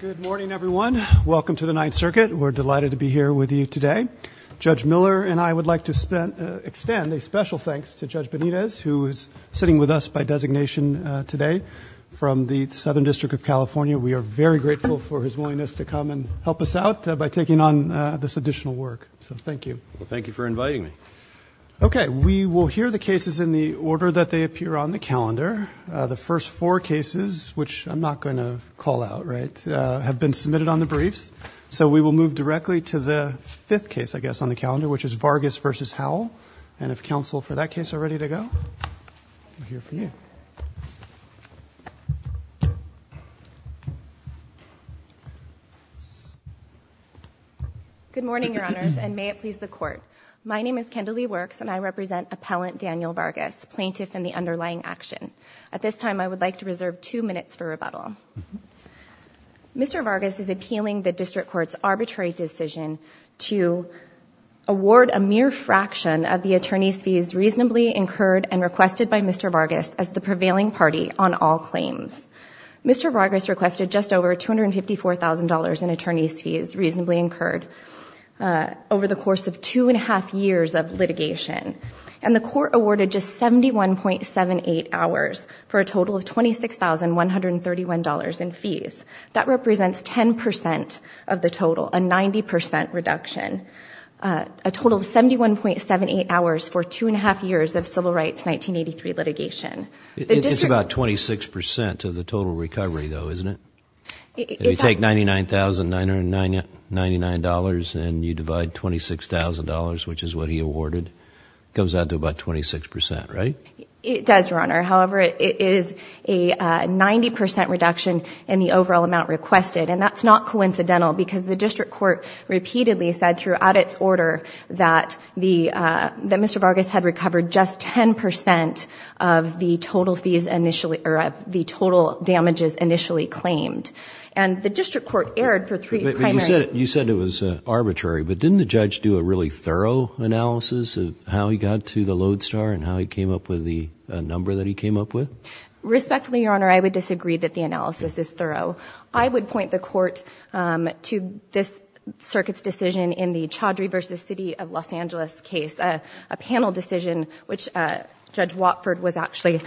Good morning everyone. Welcome to the Ninth Circuit. We're delighted to be here with you today. Judge Miller and I would like to extend a special thanks to Judge Benitez, who is sitting with us by designation today from the Southern District of California. We are very grateful for his willingness to come and help us out by taking on this additional work, so thank you. Thank you for inviting me. Okay, we will hear the cases in the order that they appear on the calendar, which is Vargas v. Howell, and if counsel for that case are ready to go, we'll hear from you. Good morning, your honors, and may it please the court. My name is Kendalee Works, and I represent Appellant Daniel Vargas, plaintiff in the underlying action. At this time, I would like to reserve two minutes for rebuttal. Thank you. Mr. Vargas is appealing the district court's arbitrary decision to award a mere fraction of the attorney's fees reasonably incurred and requested by Mr. Vargas as the prevailing party on all claims. Mr. Vargas requested just over $254,000 in attorney's fees reasonably incurred over the course of two and a half years of litigation, and the court awarded just 71.78 hours for a total of $26,131 in fees. That represents 10% of the total, a 90% reduction, a total of 71.78 hours for two and a half years of civil rights 1983 litigation. It's about 26% of the total recovery, though, isn't it? If you take $99,999 and you divide $26,000, which is what he awarded, it goes out to about 26%, right? It does, Your Honor. However, it is a 90% reduction in the overall amount requested, and that's not coincidental because the district court repeatedly said throughout its order that Mr. Vargas had recovered just 10% of the total fees initially, or the total damages initially claimed, and the district court erred for three primary... You said it was arbitrary, but didn't the judge do a really thorough analysis of how he got to the Lodestar and how he came up with the number that he came up with? Respectfully, Your Honor, I would disagree that the analysis is thorough. I would point the court to this circuit's decision in the Chaudhry v. City of Los Angeles case, a panel decision which Judge Watford actually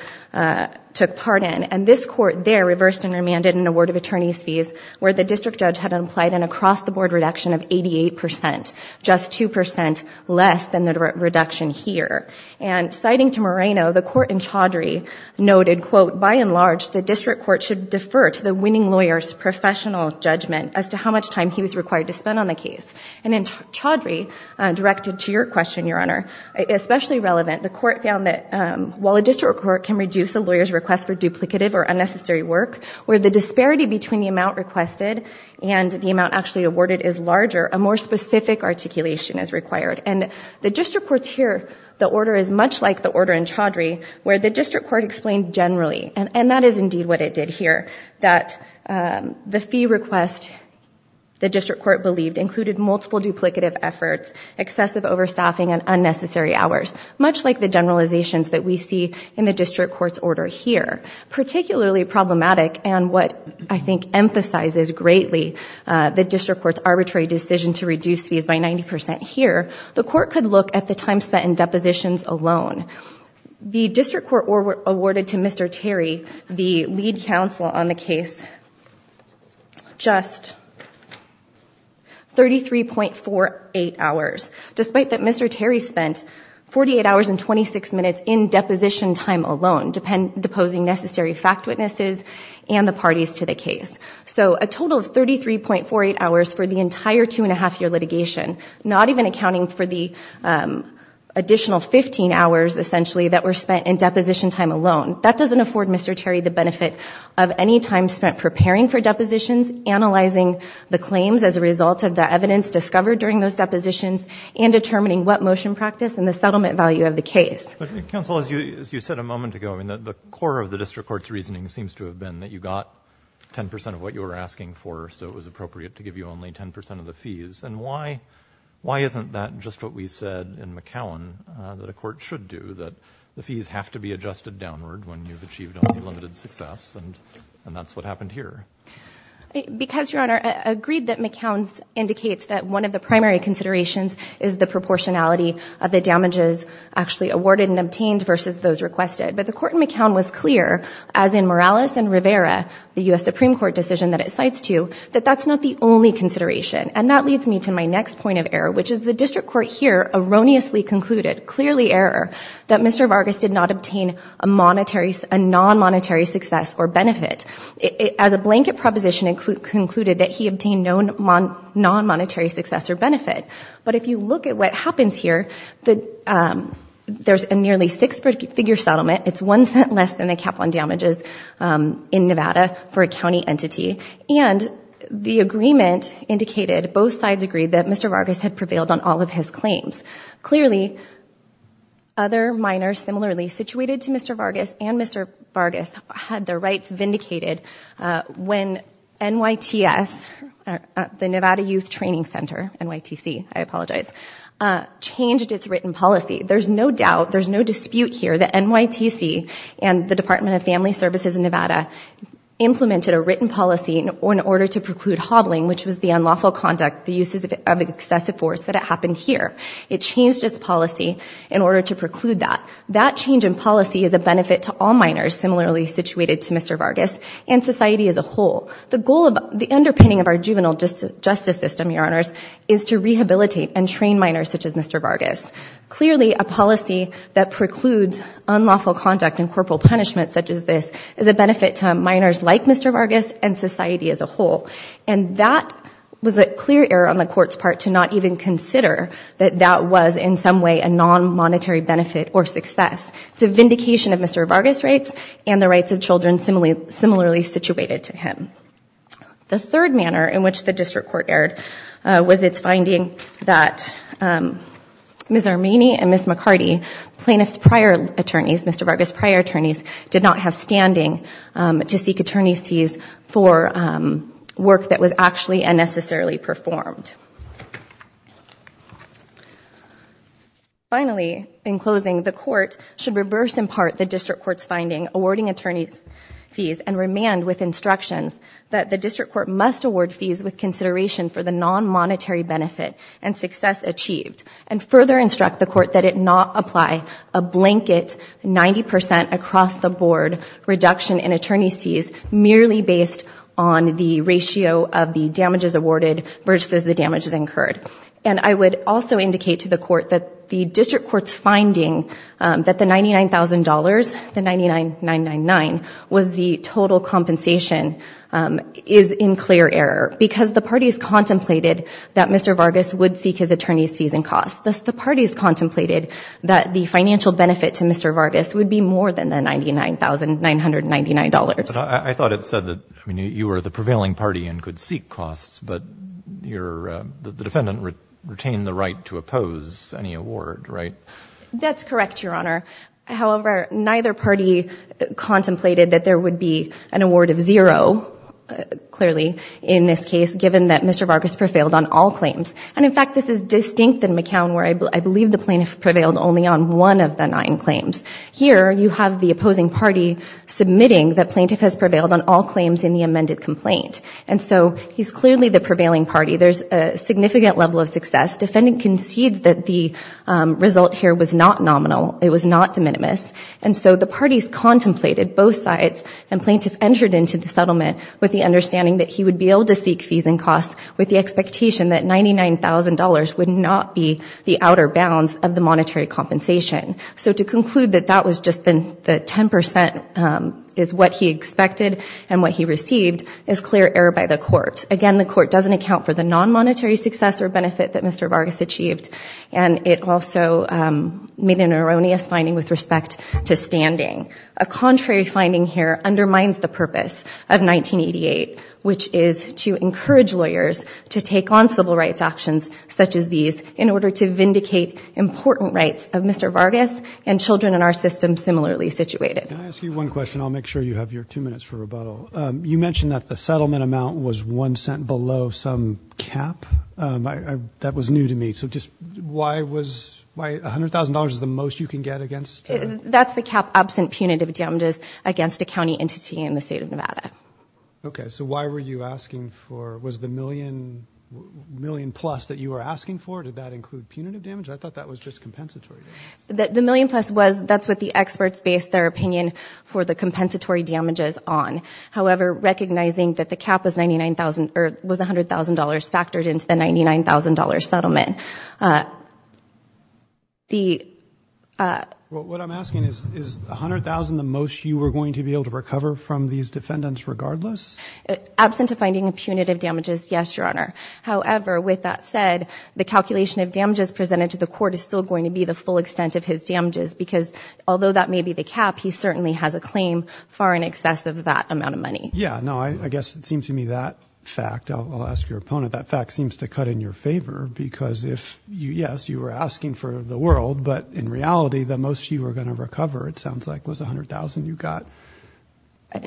took part in, and this court there reversed and remanded an award of attorneys fees where the district judge had implied an across-the-board reduction of 88%, just 2% less than the reduction here, and according to Moreno, the court in Chaudhry noted, quote, by and large the district court should defer to the winning lawyer's professional judgment as to how much time he was required to spend on the case. And in Chaudhry, directed to your question, Your Honor, especially relevant, the court found that while a district court can reduce a lawyer's request for duplicative or unnecessary work, where the disparity between the amount requested and the amount actually awarded is larger, a more specific articulation is required. And the district court's here, the order is much like the order in Chaudhry, where the district court explained generally, and that is indeed what it did here, that the fee request the district court believed included multiple duplicative efforts, excessive overstaffing, and unnecessary hours, much like the generalizations that we see in the district court's order here. Particularly problematic and what I think emphasizes greatly the district court's arbitrary decision to reduce fees by 90% here, the court could look at the time spent in depositions alone. The district court awarded to Mr. Terry, the lead counsel on the case, just 33.48 hours, despite that Mr. Terry spent 48 hours and 26 minutes in deposition time alone, deposing necessary fact witnesses and the parties to the case. So a total of 33.48 hours for the entire two and a half year litigation, not even accounting for the additional 15 hours essentially that were spent in deposition time alone. That doesn't afford Mr. Terry the benefit of any time spent preparing for depositions, analyzing the claims as a result of the evidence discovered during those depositions, and determining what motion practice and the settlement value of the case. Counsel, as you said a moment ago, I mean the core of the district court's reasoning seems to have been that you got 10% of what you were asking for so it was appropriate to give you only 10% of the fees. And why isn't that just what we said in McCown that a court should do, that the fees have to be adjusted downward when you've achieved unlimited success and that's what happened here? Because, Your Honor, I agreed that McCown indicates that one of the primary considerations is the proportionality of the damages actually awarded and obtained versus those requested. But the court in McCown was clear, as in Morales and Rivera, the U.S. Supreme Court decision that it cites to, that that's not the only consideration. And that leads me to my next point of error, which is the district court here erroneously concluded, clearly error, that Mr. Vargas did not obtain a monetary, a non-monetary success or benefit. As a blanket proposition, it concluded that he obtained no non-monetary success or benefit. But if you look at what happens here, there's a nearly six-figure settlement. It's one cent less than the cap on damages in Nevada for a county entity. And the agreement indicated, both sides agreed, that Mr. Vargas had prevailed on all of his claims. Clearly, other minors similarly situated to Mr. Vargas and Mr. Vargas had their rights vindicated when NYTS, the Nevada Youth Training Center, NYTC, I apologize, changed its written policy. There's no doubt, there's no dispute here, that NYTC and the Department of Family Services in Nevada implemented a written policy in order to preclude hobbling, which was the unlawful conduct, the uses of excessive force, that it happened here. It changed its policy in order to preclude that. That change in policy is a benefit to all minors similarly situated to Mr. Vargas and society as a whole. The goal of, the underpinning of our juvenile justice system, your honors, is to rehabilitate and train minors such as Mr. Vargas. Clearly, a policy that precludes unlawful conduct and corporal punishment such as this is a benefit to minors like Mr. Vargas and society as a whole. And that was a clear error on the court's part to not even consider that that was in some way a non-monetary benefit or success. It's a vindication of Mr. Vargas' rights and the rights of children similarly situated to him. The third manner in which the district court erred was its finding that Ms. Armini and Ms. McCarty, plaintiffs' prior attorneys, Mr. Vargas' prior attorneys, did not have standing to seek attorney's fees for work that was actually unnecessarily performed. Finally, in closing, the court should reverse in part the district court's finding awarding attorney's fees and remand with instructions that the district court must award fees with consideration for the non-monetary benefit and success achieved and further instruct the court that it not apply a blanket 90% across-the-board reduction in attorney's fees merely based on the ratio of the damages awarded versus the damages incurred. And I would also indicate to the court that the district court's finding that the $99,000, the $99,999, was the total compensation is in clear error because the parties contemplated that Mr. Vargas would seek his attorney's fees and costs. Thus, the parties contemplated that the financial benefit to Mr. Vargas would be more than the $99,999. I thought it said that you were the prevailing party and could seek costs but the defendant retained the right to oppose any award, right? That's correct, Your Honor. However, neither party contemplated that there would be an award of zero, clearly, in this case given that Mr. Vargas prevailed on all claims. And in fact, this is distinct in McCown where I believe the plaintiff prevailed only on one of the nine claims. Here, you have the opposing party submitting that plaintiff has prevailed on all claims in the amended complaint. And so he's clearly the prevailing party. There's a significant level of success. Defendant concedes that the result here was not nominal. It was not de minimis. And so the parties contemplated both sides and plaintiff entered into the settlement with the understanding that he would be able to seek fees and costs with the expectation that $99,000 would not be the outer bounds of the monetary compensation. So to conclude that that was just the 10% is what he expected and what he received is clear error by the court. Again, the court doesn't account for the non-monetary success or benefit that Mr. Vargas achieved and it also made an erroneous finding with respect to standing. A contrary finding here undermines the purpose of 1988 which is to encourage lawyers to take on civil rights actions such as these in order to vindicate important rights of Mr. Vargas and children in our system similarly situated. Can I ask you one question? I'll make sure you have your two minutes for rebuttal. You mentioned that the settlement amount was one cent below some cap. That was new to me. So just why was, why $100,000 is the most you can get against? That's the cap absent punitive damages against a county entity in the state of Nevada. Okay, so why were you asking for, was the million, million plus that you were asking for, did that include punitive damage? I thought that was just compensatory. The million plus was, that's what the experts based their opinion for the compensatory damages on. However, recognizing that the cap was $99,000, or was $100,000 factored into the $99,000 settlement. The... What I'm asking is, is $100,000 the most you were going to be able to recover from these defendants regardless? Absent of finding a punitive damages, yes, Your Honor. However, with that said, the calculation of damages presented to the court is still going to be the full extent of his damages because although that may be the cap, he certainly has a claim far in excess of that amount of money. Yeah, no, I guess it seems to me that fact, I'll ask your opponent, that fact seems to cut in your favor because if you, yes, you were asking for the world, but in reality the most you were going to recover, it sounds like, was $100,000. You got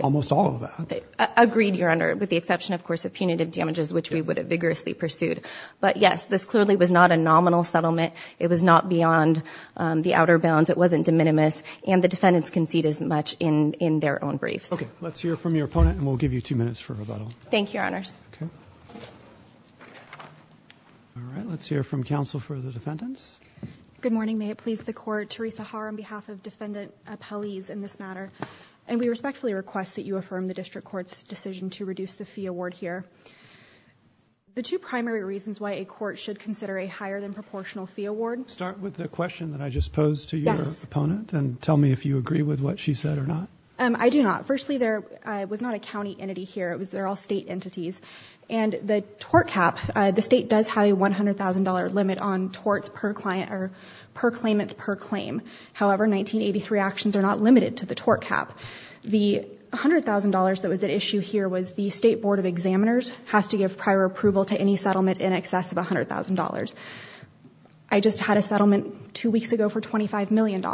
almost all of that. Agreed, Your Honor, with the exception, of course, of punitive damages which we would have vigorously pursued. But yes, this clearly was not a nominal settlement. It was not beyond the outer bounds. It wasn't de minimis, and the defendants concede as much in, in their own briefs. Okay, let's hear from your opponent and we'll give you two minutes for rebuttal. Thank you, Your Honors. Okay. All right, let's hear from counsel for the defendants. Good morning. May it please the court, Teresa Haar on behalf of defendant appellees in this matter, and we respectfully request that you affirm the district court's decision to reduce the fee award here. The two primary reasons why a court should consider a higher than proportional fee award... Start with the question that I just posed to your opponent and tell me if you agree with what she said or not. I do not. Firstly, there was not a county entity here. It was, they're all state entities, and the tort cap, the state does have a $100,000 limit on torts per client or per claimant per claim. However, 1983 actions are not limited to the tort cap. The $100,000 that was at issue here was the State Board of Examiners has to give prior approval to any settlement in excess of $100,000. I just had a settlement two weeks ago for $25 million.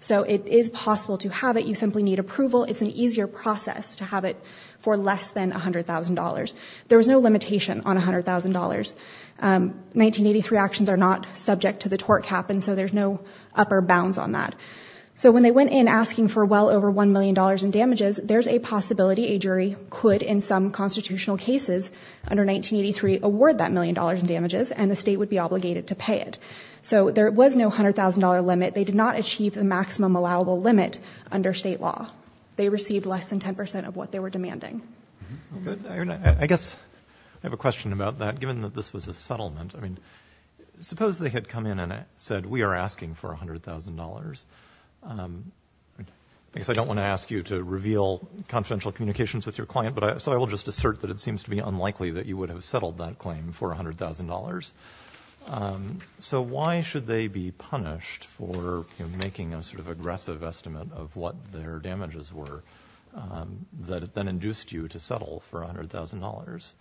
So it is possible to have it. You simply need approval. It's an easier process to have it for less than $100,000. There was no limitation on $100,000. 1983 actions are not subject to the tort cap, and so there's no upper bounds on that. So when they went in asking for well over $1 million in damages, there's a possibility a jury could, in some constitutional cases under 1983, award that $1 million in damages, and the state would be obligated to pay it. So there was no $100,000 limit. They did not achieve the maximum allowable limit under state law. They received less than 10% of what they were demanding. I guess I have a question about that, given that this was a settlement. I mean, suppose they had come in and said, we are asking for $100,000. I guess I don't want to ask you to reveal confidential communications with your client, so I will just assert that it seems to be unlikely that you would have settled that claim for $100,000. So why should they be punished for making a sort of aggressive estimate of what their damages were that then induced you to settle for $100,000?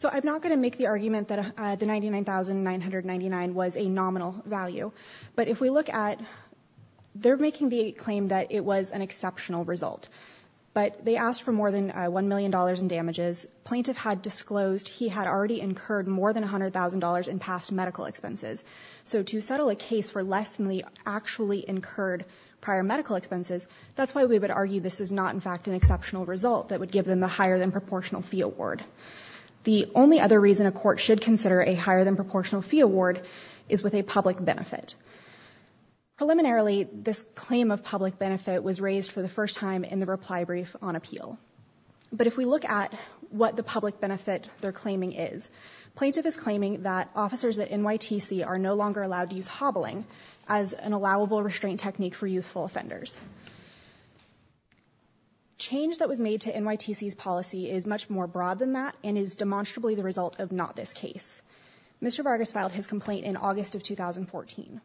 So I'm not going to make the argument that the $99,999 was a nominal value, but if we look at, they're making the claim that it was an exceptional result, but they asked for more than $1 million in damages. Plaintiff had disclosed he had already incurred more than $100,000 in past medical expenses. So to settle a case for less than the actually incurred prior medical expenses, that's why we would argue this is not in fact an exceptional result that would give them the higher than proportional fee award. The only other reason a court should consider a higher than proportional fee award is with a public benefit. Preliminarily, this claim of public benefit was raised for the first time in the reply brief on appeal. But if we look at what the public benefit they're claiming is, plaintiff is claiming that officers at NYTC are no longer allowed to use hobbling as an allowable restraint technique for youthful offenders. Change that was made to NYTC's policy is much more broad than that and is demonstrably the result of not this case. Mr. Vargas filed his complaint in August of 2014.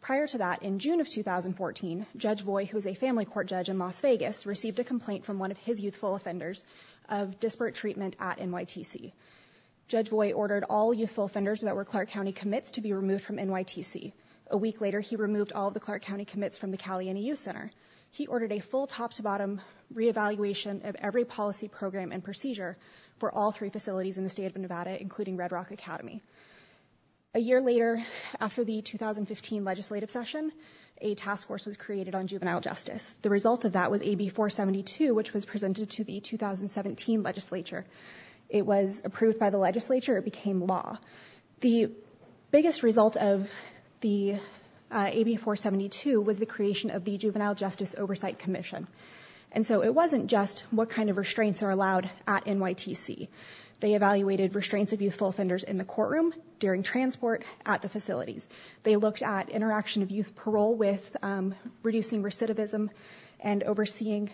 Prior to that, in June of 2014, Judge Voy, who is a family court judge in Las Vegas, received a complaint from one of his youthful offenders of disparate treatment at NYTC. Judge Voy ordered all youthful offenders that were Clark County commits to be removed from NYTC. A week later, he removed all the Clark County commits from the Caliena Youth Center. He ordered a full top-to-bottom reevaluation of every policy program and procedure for all three facilities in the state of Nevada, including Red Rock Academy. A year later, after the 2015 legislative session, a task force was the result of that was AB 472, which was presented to the 2017 legislature. It was approved by the legislature. It became law. The biggest result of the AB 472 was the creation of the Juvenile Justice Oversight Commission. And so it wasn't just what kind of restraints are allowed at NYTC. They evaluated restraints of youthful offenders in the courtroom, during transport, at the facilities. They looked at interaction of youth parole with reducing recidivism and overseeing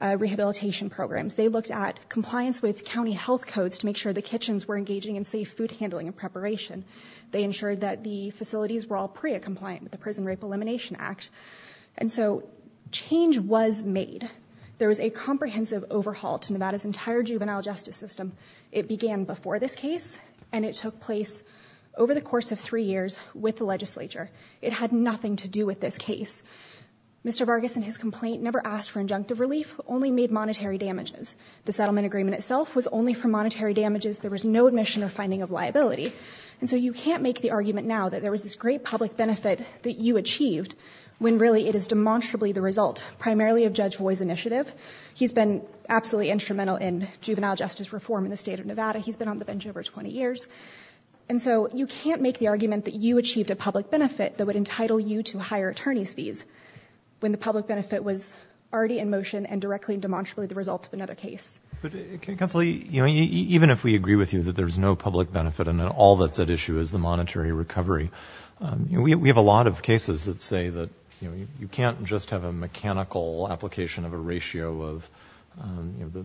rehabilitation programs. They looked at compliance with county health codes to make sure the kitchens were engaging in safe food handling and preparation. They ensured that the facilities were all PREA compliant with the Prison Rape Elimination Act. And so change was made. There was a comprehensive overhaul to Nevada's entire juvenile justice system. It began before this case and it took place over the course of three years with the legislature. It had nothing to do with this case. Mr. Vargas and his complaint never asked for injunctive relief, only made monetary damages. The settlement agreement itself was only for monetary damages. There was no admission or finding of liability. And so you can't make the argument now that there was this great public benefit that you achieved, when really it is demonstrably the result, primarily of Judge Voy's initiative. He's been absolutely instrumental in juvenile justice reform in the state of Nevada. He's been on the bench over 20 years. And so you can't make the argument that you achieved a public benefit that would entitle you to higher attorney's fees, when the public benefit was already in motion and directly demonstrably the result of another case. But Counselor, even if we agree with you that there's no public benefit and that all that's at issue is the monetary recovery, we have a lot of cases that say that you can't just have a mechanical application of a ratio of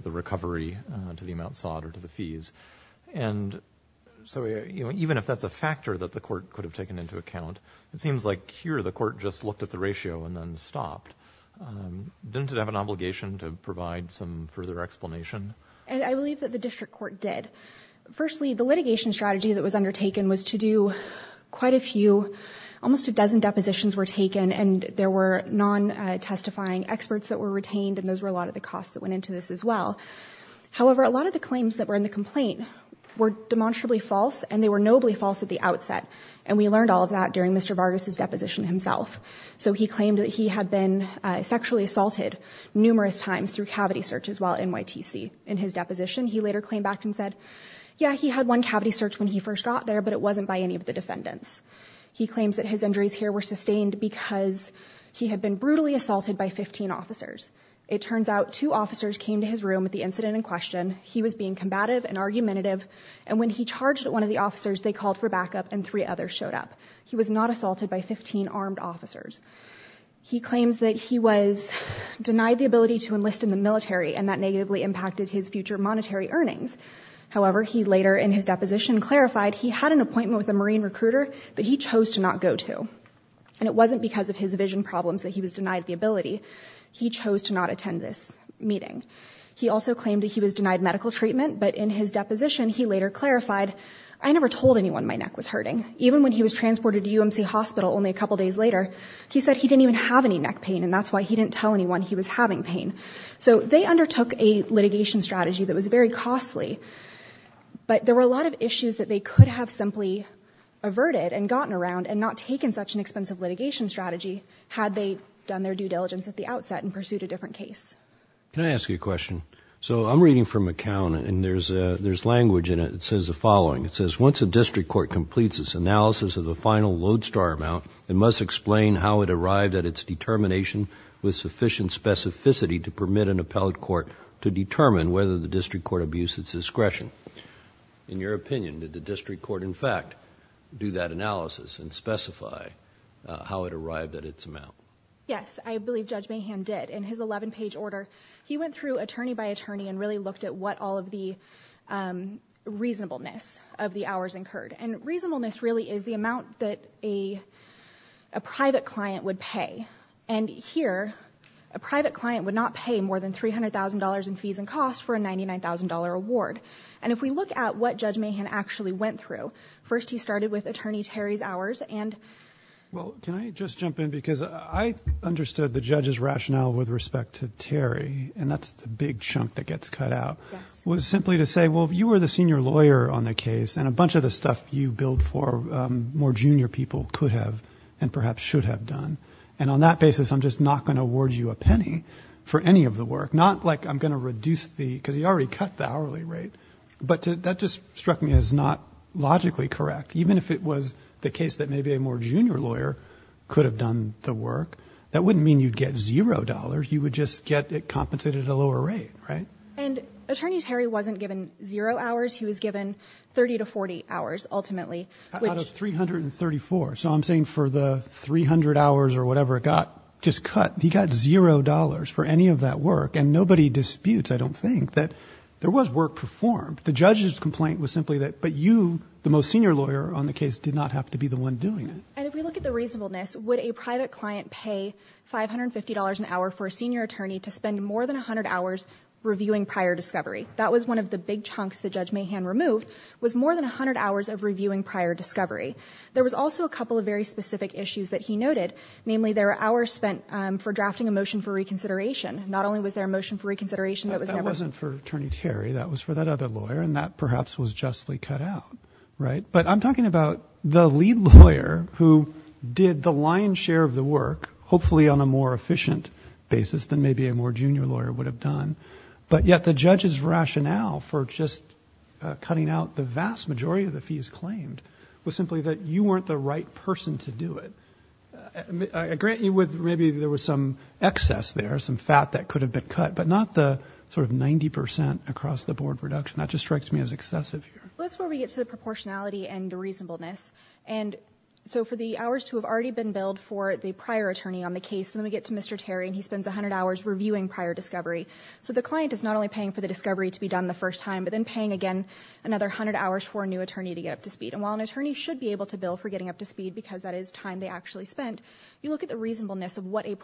the recovery to the amount sought or to the fees. And so even if that's a factor that the court could have taken into account, it seems like here the court just looked at the ratio and then stopped. Didn't it have an obligation to provide some further explanation? And I believe that the district court did. Firstly, the litigation strategy that was undertaken was to do quite a few, almost a dozen depositions were taken, and there were non-testifying experts that were retained and those were a lot of the costs that went into this as well. However, a lot of the claims that were in the complaint were demonstrably false and they were nobly false at the outset. And we learned all of that during Mr. Vargas' deposition himself. So he claimed that he had been sexually assaulted numerous times through cavity searches while at NYTC. In his deposition, he later came back and said, yeah, he had one cavity search when he first got there, but it wasn't by any of the defendants. He claims that his injuries here were sustained because he had been brutally assaulted by 15 officers. It turns out two officers came to his room at the incident in question. He was being combative and argumentative, and when he charged at one of the officers, they called for backup and three others showed up. He was not assaulted by 15 armed officers. He claims that he was denied the ability to enlist in the military and that negatively impacted his future monetary earnings. However, he later in his deposition clarified he had an appointment with a Marine recruiter that he chose to not go to, and it wasn't because of his vision problems that he was denied the ability. He chose to not attend this meeting. He also claimed that he was denied medical treatment, but in his deposition he later clarified, I never told anyone my neck was hurting. Even when he was transported to UMC Hospital only a couple days later, he said he didn't even have any neck pain, and that's why he didn't tell anyone he was having pain. So they undertook a litigation strategy that was very costly, but there were a lot of issues that they could have simply averted and gotten around and not taken such an expensive litigation strategy had they done their due diligence at the outset and pursued a different case. Can I ask you a question? So I'm reading from McCown and there's there's language in it that says the following. It says, once a district court completes its analysis of the final lodestar amount, it must explain how it arrived at its determination with sufficient specificity to permit an appellate court to determine whether the district court abused its discretion. In your opinion, did the district court in fact do that analysis and specify how it arrived at its amount? Yes, I believe Judge Mahan did. In his 11-page order, he went through attorney by attorney and really looked at what all of the reasonableness of the hours incurred. And reasonableness really is the amount that a private client would pay. And here, a private client would not pay more than three hundred thousand dollars in fees and costs for a ninety nine thousand dollar award. And if we look at what Judge Mahan actually went through, first he started with attorney Terry's hours and... Well, can I just jump in? Because I understood the judge's rationale with respect to Terry, and that's the big chunk that gets cut out, was simply to say, well, if you were the senior lawyer on the case and a bunch of the stuff you billed for more junior people could have and perhaps should have done, and on that basis I'm just not going to award you a penny for any of the work. Not like I'm going to reduce the... because you already cut the hourly rate. But that just struck me as not logically correct. Even if it was the case that maybe a more junior lawyer could have done the work, that wouldn't mean you'd get zero dollars. You would just get it compensated at a lower rate, right? And Attorney Terry wasn't given zero hours. He was given thirty to forty hours ultimately. Out of three hundred and thirty four. So I'm saying for the three hundred hours or whatever it got just cut, he got zero dollars for any of that work. And there was work performed. The judge's complaint was simply that, but you, the most senior lawyer on the case, did not have to be the one doing it. And if we look at the reasonableness, would a private client pay five hundred and fifty dollars an hour for a senior attorney to spend more than a hundred hours reviewing prior discovery? That was one of the big chunks that Judge Mahan removed, was more than a hundred hours of reviewing prior discovery. There was also a couple of very specific issues that he noted, namely there were hours spent for drafting a motion for reconsideration. Not only was there a motion for reconsideration that was never... Attorney Terry, that was for that other lawyer, and that perhaps was justly cut out, right? But I'm talking about the lead lawyer who did the lion's share of the work, hopefully on a more efficient basis than maybe a more junior lawyer would have done. But yet the judge's rationale for just cutting out the vast majority of the fees claimed was simply that you weren't the right person to do it. I grant you with... maybe there was some excess there, some fat that across the board reduction. That just strikes me as excessive here. Well, that's where we get to the proportionality and the reasonableness. For the hours to have already been billed for the prior attorney on the case, then we get to Mr. Terry and he spends a hundred hours reviewing prior discovery. The client is not only paying for the discovery to be done the first time, but then paying again another hundred hours for a new attorney to get up to speed. While an attorney should be able to bill for getting up to speed because that is time they actually spent, you look at the reasonableness of what a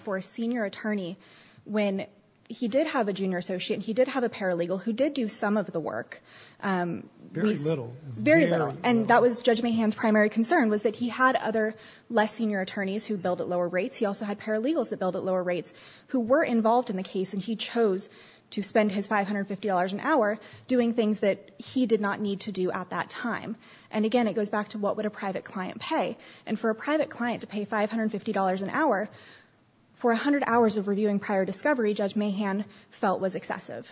for a senior attorney when he did have a junior associate, he did have a paralegal who did do some of the work. Very little. Very little. That was Judge Mahan's primary concern was that he had other less senior attorneys who billed at lower rates. He also had paralegals that billed at lower rates who were involved in the case and he chose to spend his $550 an hour doing things that he did not need to do at that time. Again, it goes back to what would a private client pay? For a private client to pay $550 an hour for a hundred hours of reviewing prior discovery, Judge Mahan felt was excessive.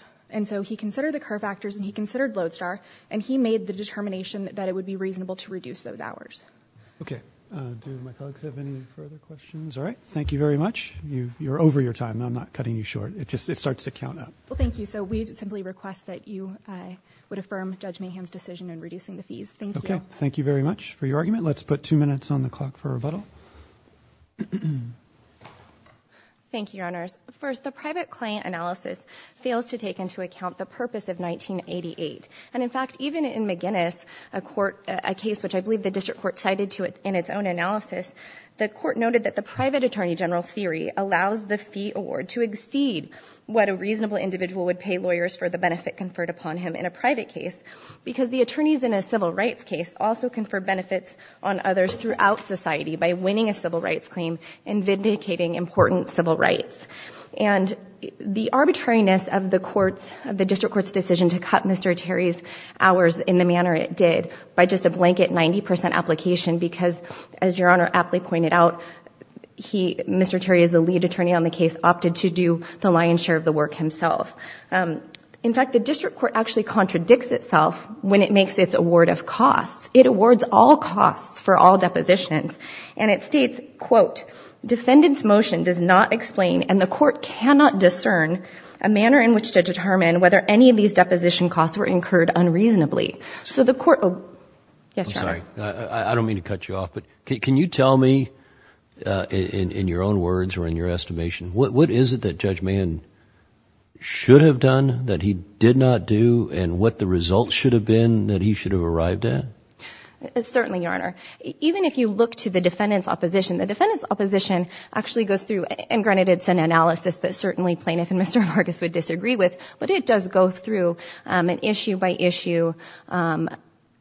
He considered the curve factors and he considered Lodestar and he made the determination that it would be reasonable to reduce those hours. Okay. Do my colleagues have any further questions? All right. Thank you very much. You're over your time. I'm not cutting you short. It starts to count up. Thank you. We simply request that you would affirm Judge Mahan's decision in reducing the fees. Thank you. Thank you very much for your argument. Let's put two minutes on the clock for Reveto. Thank you, Your Honors. First, the private client analysis fails to take into account the purpose of 1988. In fact, even in McGinnis, a case which I believe the district court cited in its own analysis, the court noted that the private attorney general theory allows the fee award to exceed what a reasonable individual would pay lawyers for the benefit conferred upon him in a private case because the attorneys in a civil rights case also confer benefits on society by winning a civil rights claim and vindicating important civil rights. The arbitrariness of the district court's decision to cut Mr. Terry's hours in the manner it did by just a blanket 90 percent application because, as Your Honor aptly pointed out, Mr. Terry, as the lead attorney on the case, opted to do the lion's share of the work himself. In fact, the district court actually contradicts itself when it makes its award of costs. It awards all costs for all depositions. And it states, quote, defendant's motion does not explain and the court cannot discern a manner in which to determine whether any of these deposition costs were incurred unreasonably. So the court, oh, yes, Your Honor. I'm sorry. I don't mean to cut you off, but can you tell me, in your own words or in your estimation, what is it that Judge Mann should have done that he did not do and what the results should have been that he should have arrived at? Certainly, Your Honor. Even if you look to the defendant's opposition, the defendant's opposition actually goes through, and granted it's an analysis that certainly plaintiff and Mr. Vargas would disagree with, but it does go through an issue by issue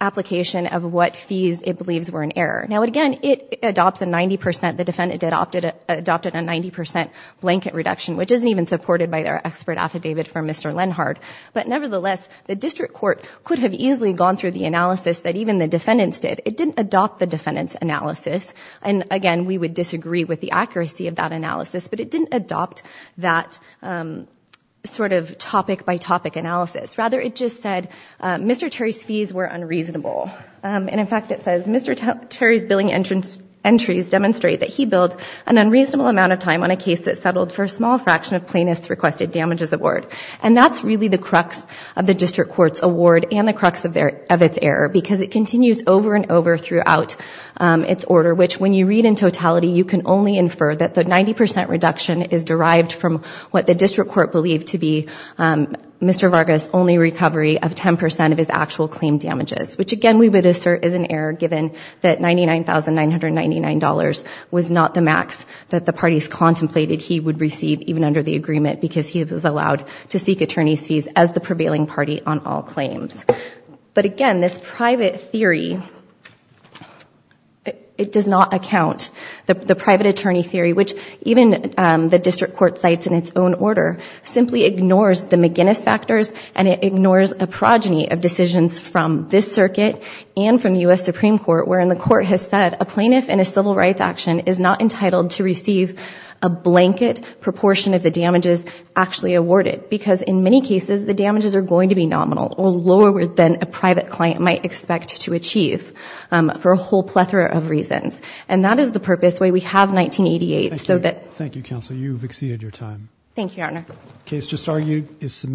application of what fees it believes were in error. Now, again, it adopts a 90 percent, the defendant adopted a 90 percent blanket reduction, which isn't even supported by their expert affidavit from Mr. Lenhardt, but nevertheless, the district court could have easily gone through the analysis that even the defendants did. It didn't adopt the defendant's analysis, and again, we would disagree with the accuracy of that analysis, but it didn't adopt that sort of topic by topic analysis. Rather, it just said Mr. Terry's fees were unreasonable, and in fact, it says Mr. Terry's billing entries demonstrate that he billed an unreasonable amount of time on a case that settled for a small fraction of plaintiffs' requested damages award, and that's really the crux of the district court's award and the crux of their, of its error, because it continues over and over throughout its order, which when you read in totality, you can only infer that the 90 percent reduction is derived from what the district court believed to be Mr. Vargas' only recovery of 10 percent of his actual claim damages, which again, we would assert is an error, given that $99,999 was not the max that the parties contemplated he would receive, even under the agreement, because he was allowed to seek attorney's fees as the prevailing party on all claims. But again, this private theory, it does not account, the private attorney theory, which even the district court cites in its own order, simply ignores the McGinnis factors, and it ignores a progeny of decisions from this circuit and from U.S. Supreme Court, wherein the court has said a plaintiff in a civil rights action is not entitled to receive a blanket proportion of the damages actually awarded, because in many cases the damages are going to be nominal or lower than a private client might expect to achieve, for a whole plethora of reasons. And that is the purpose why we have 1988, so that... Thank you counsel, you've exceeded your time. Thank you, Your Honor. The case just argued is submitted...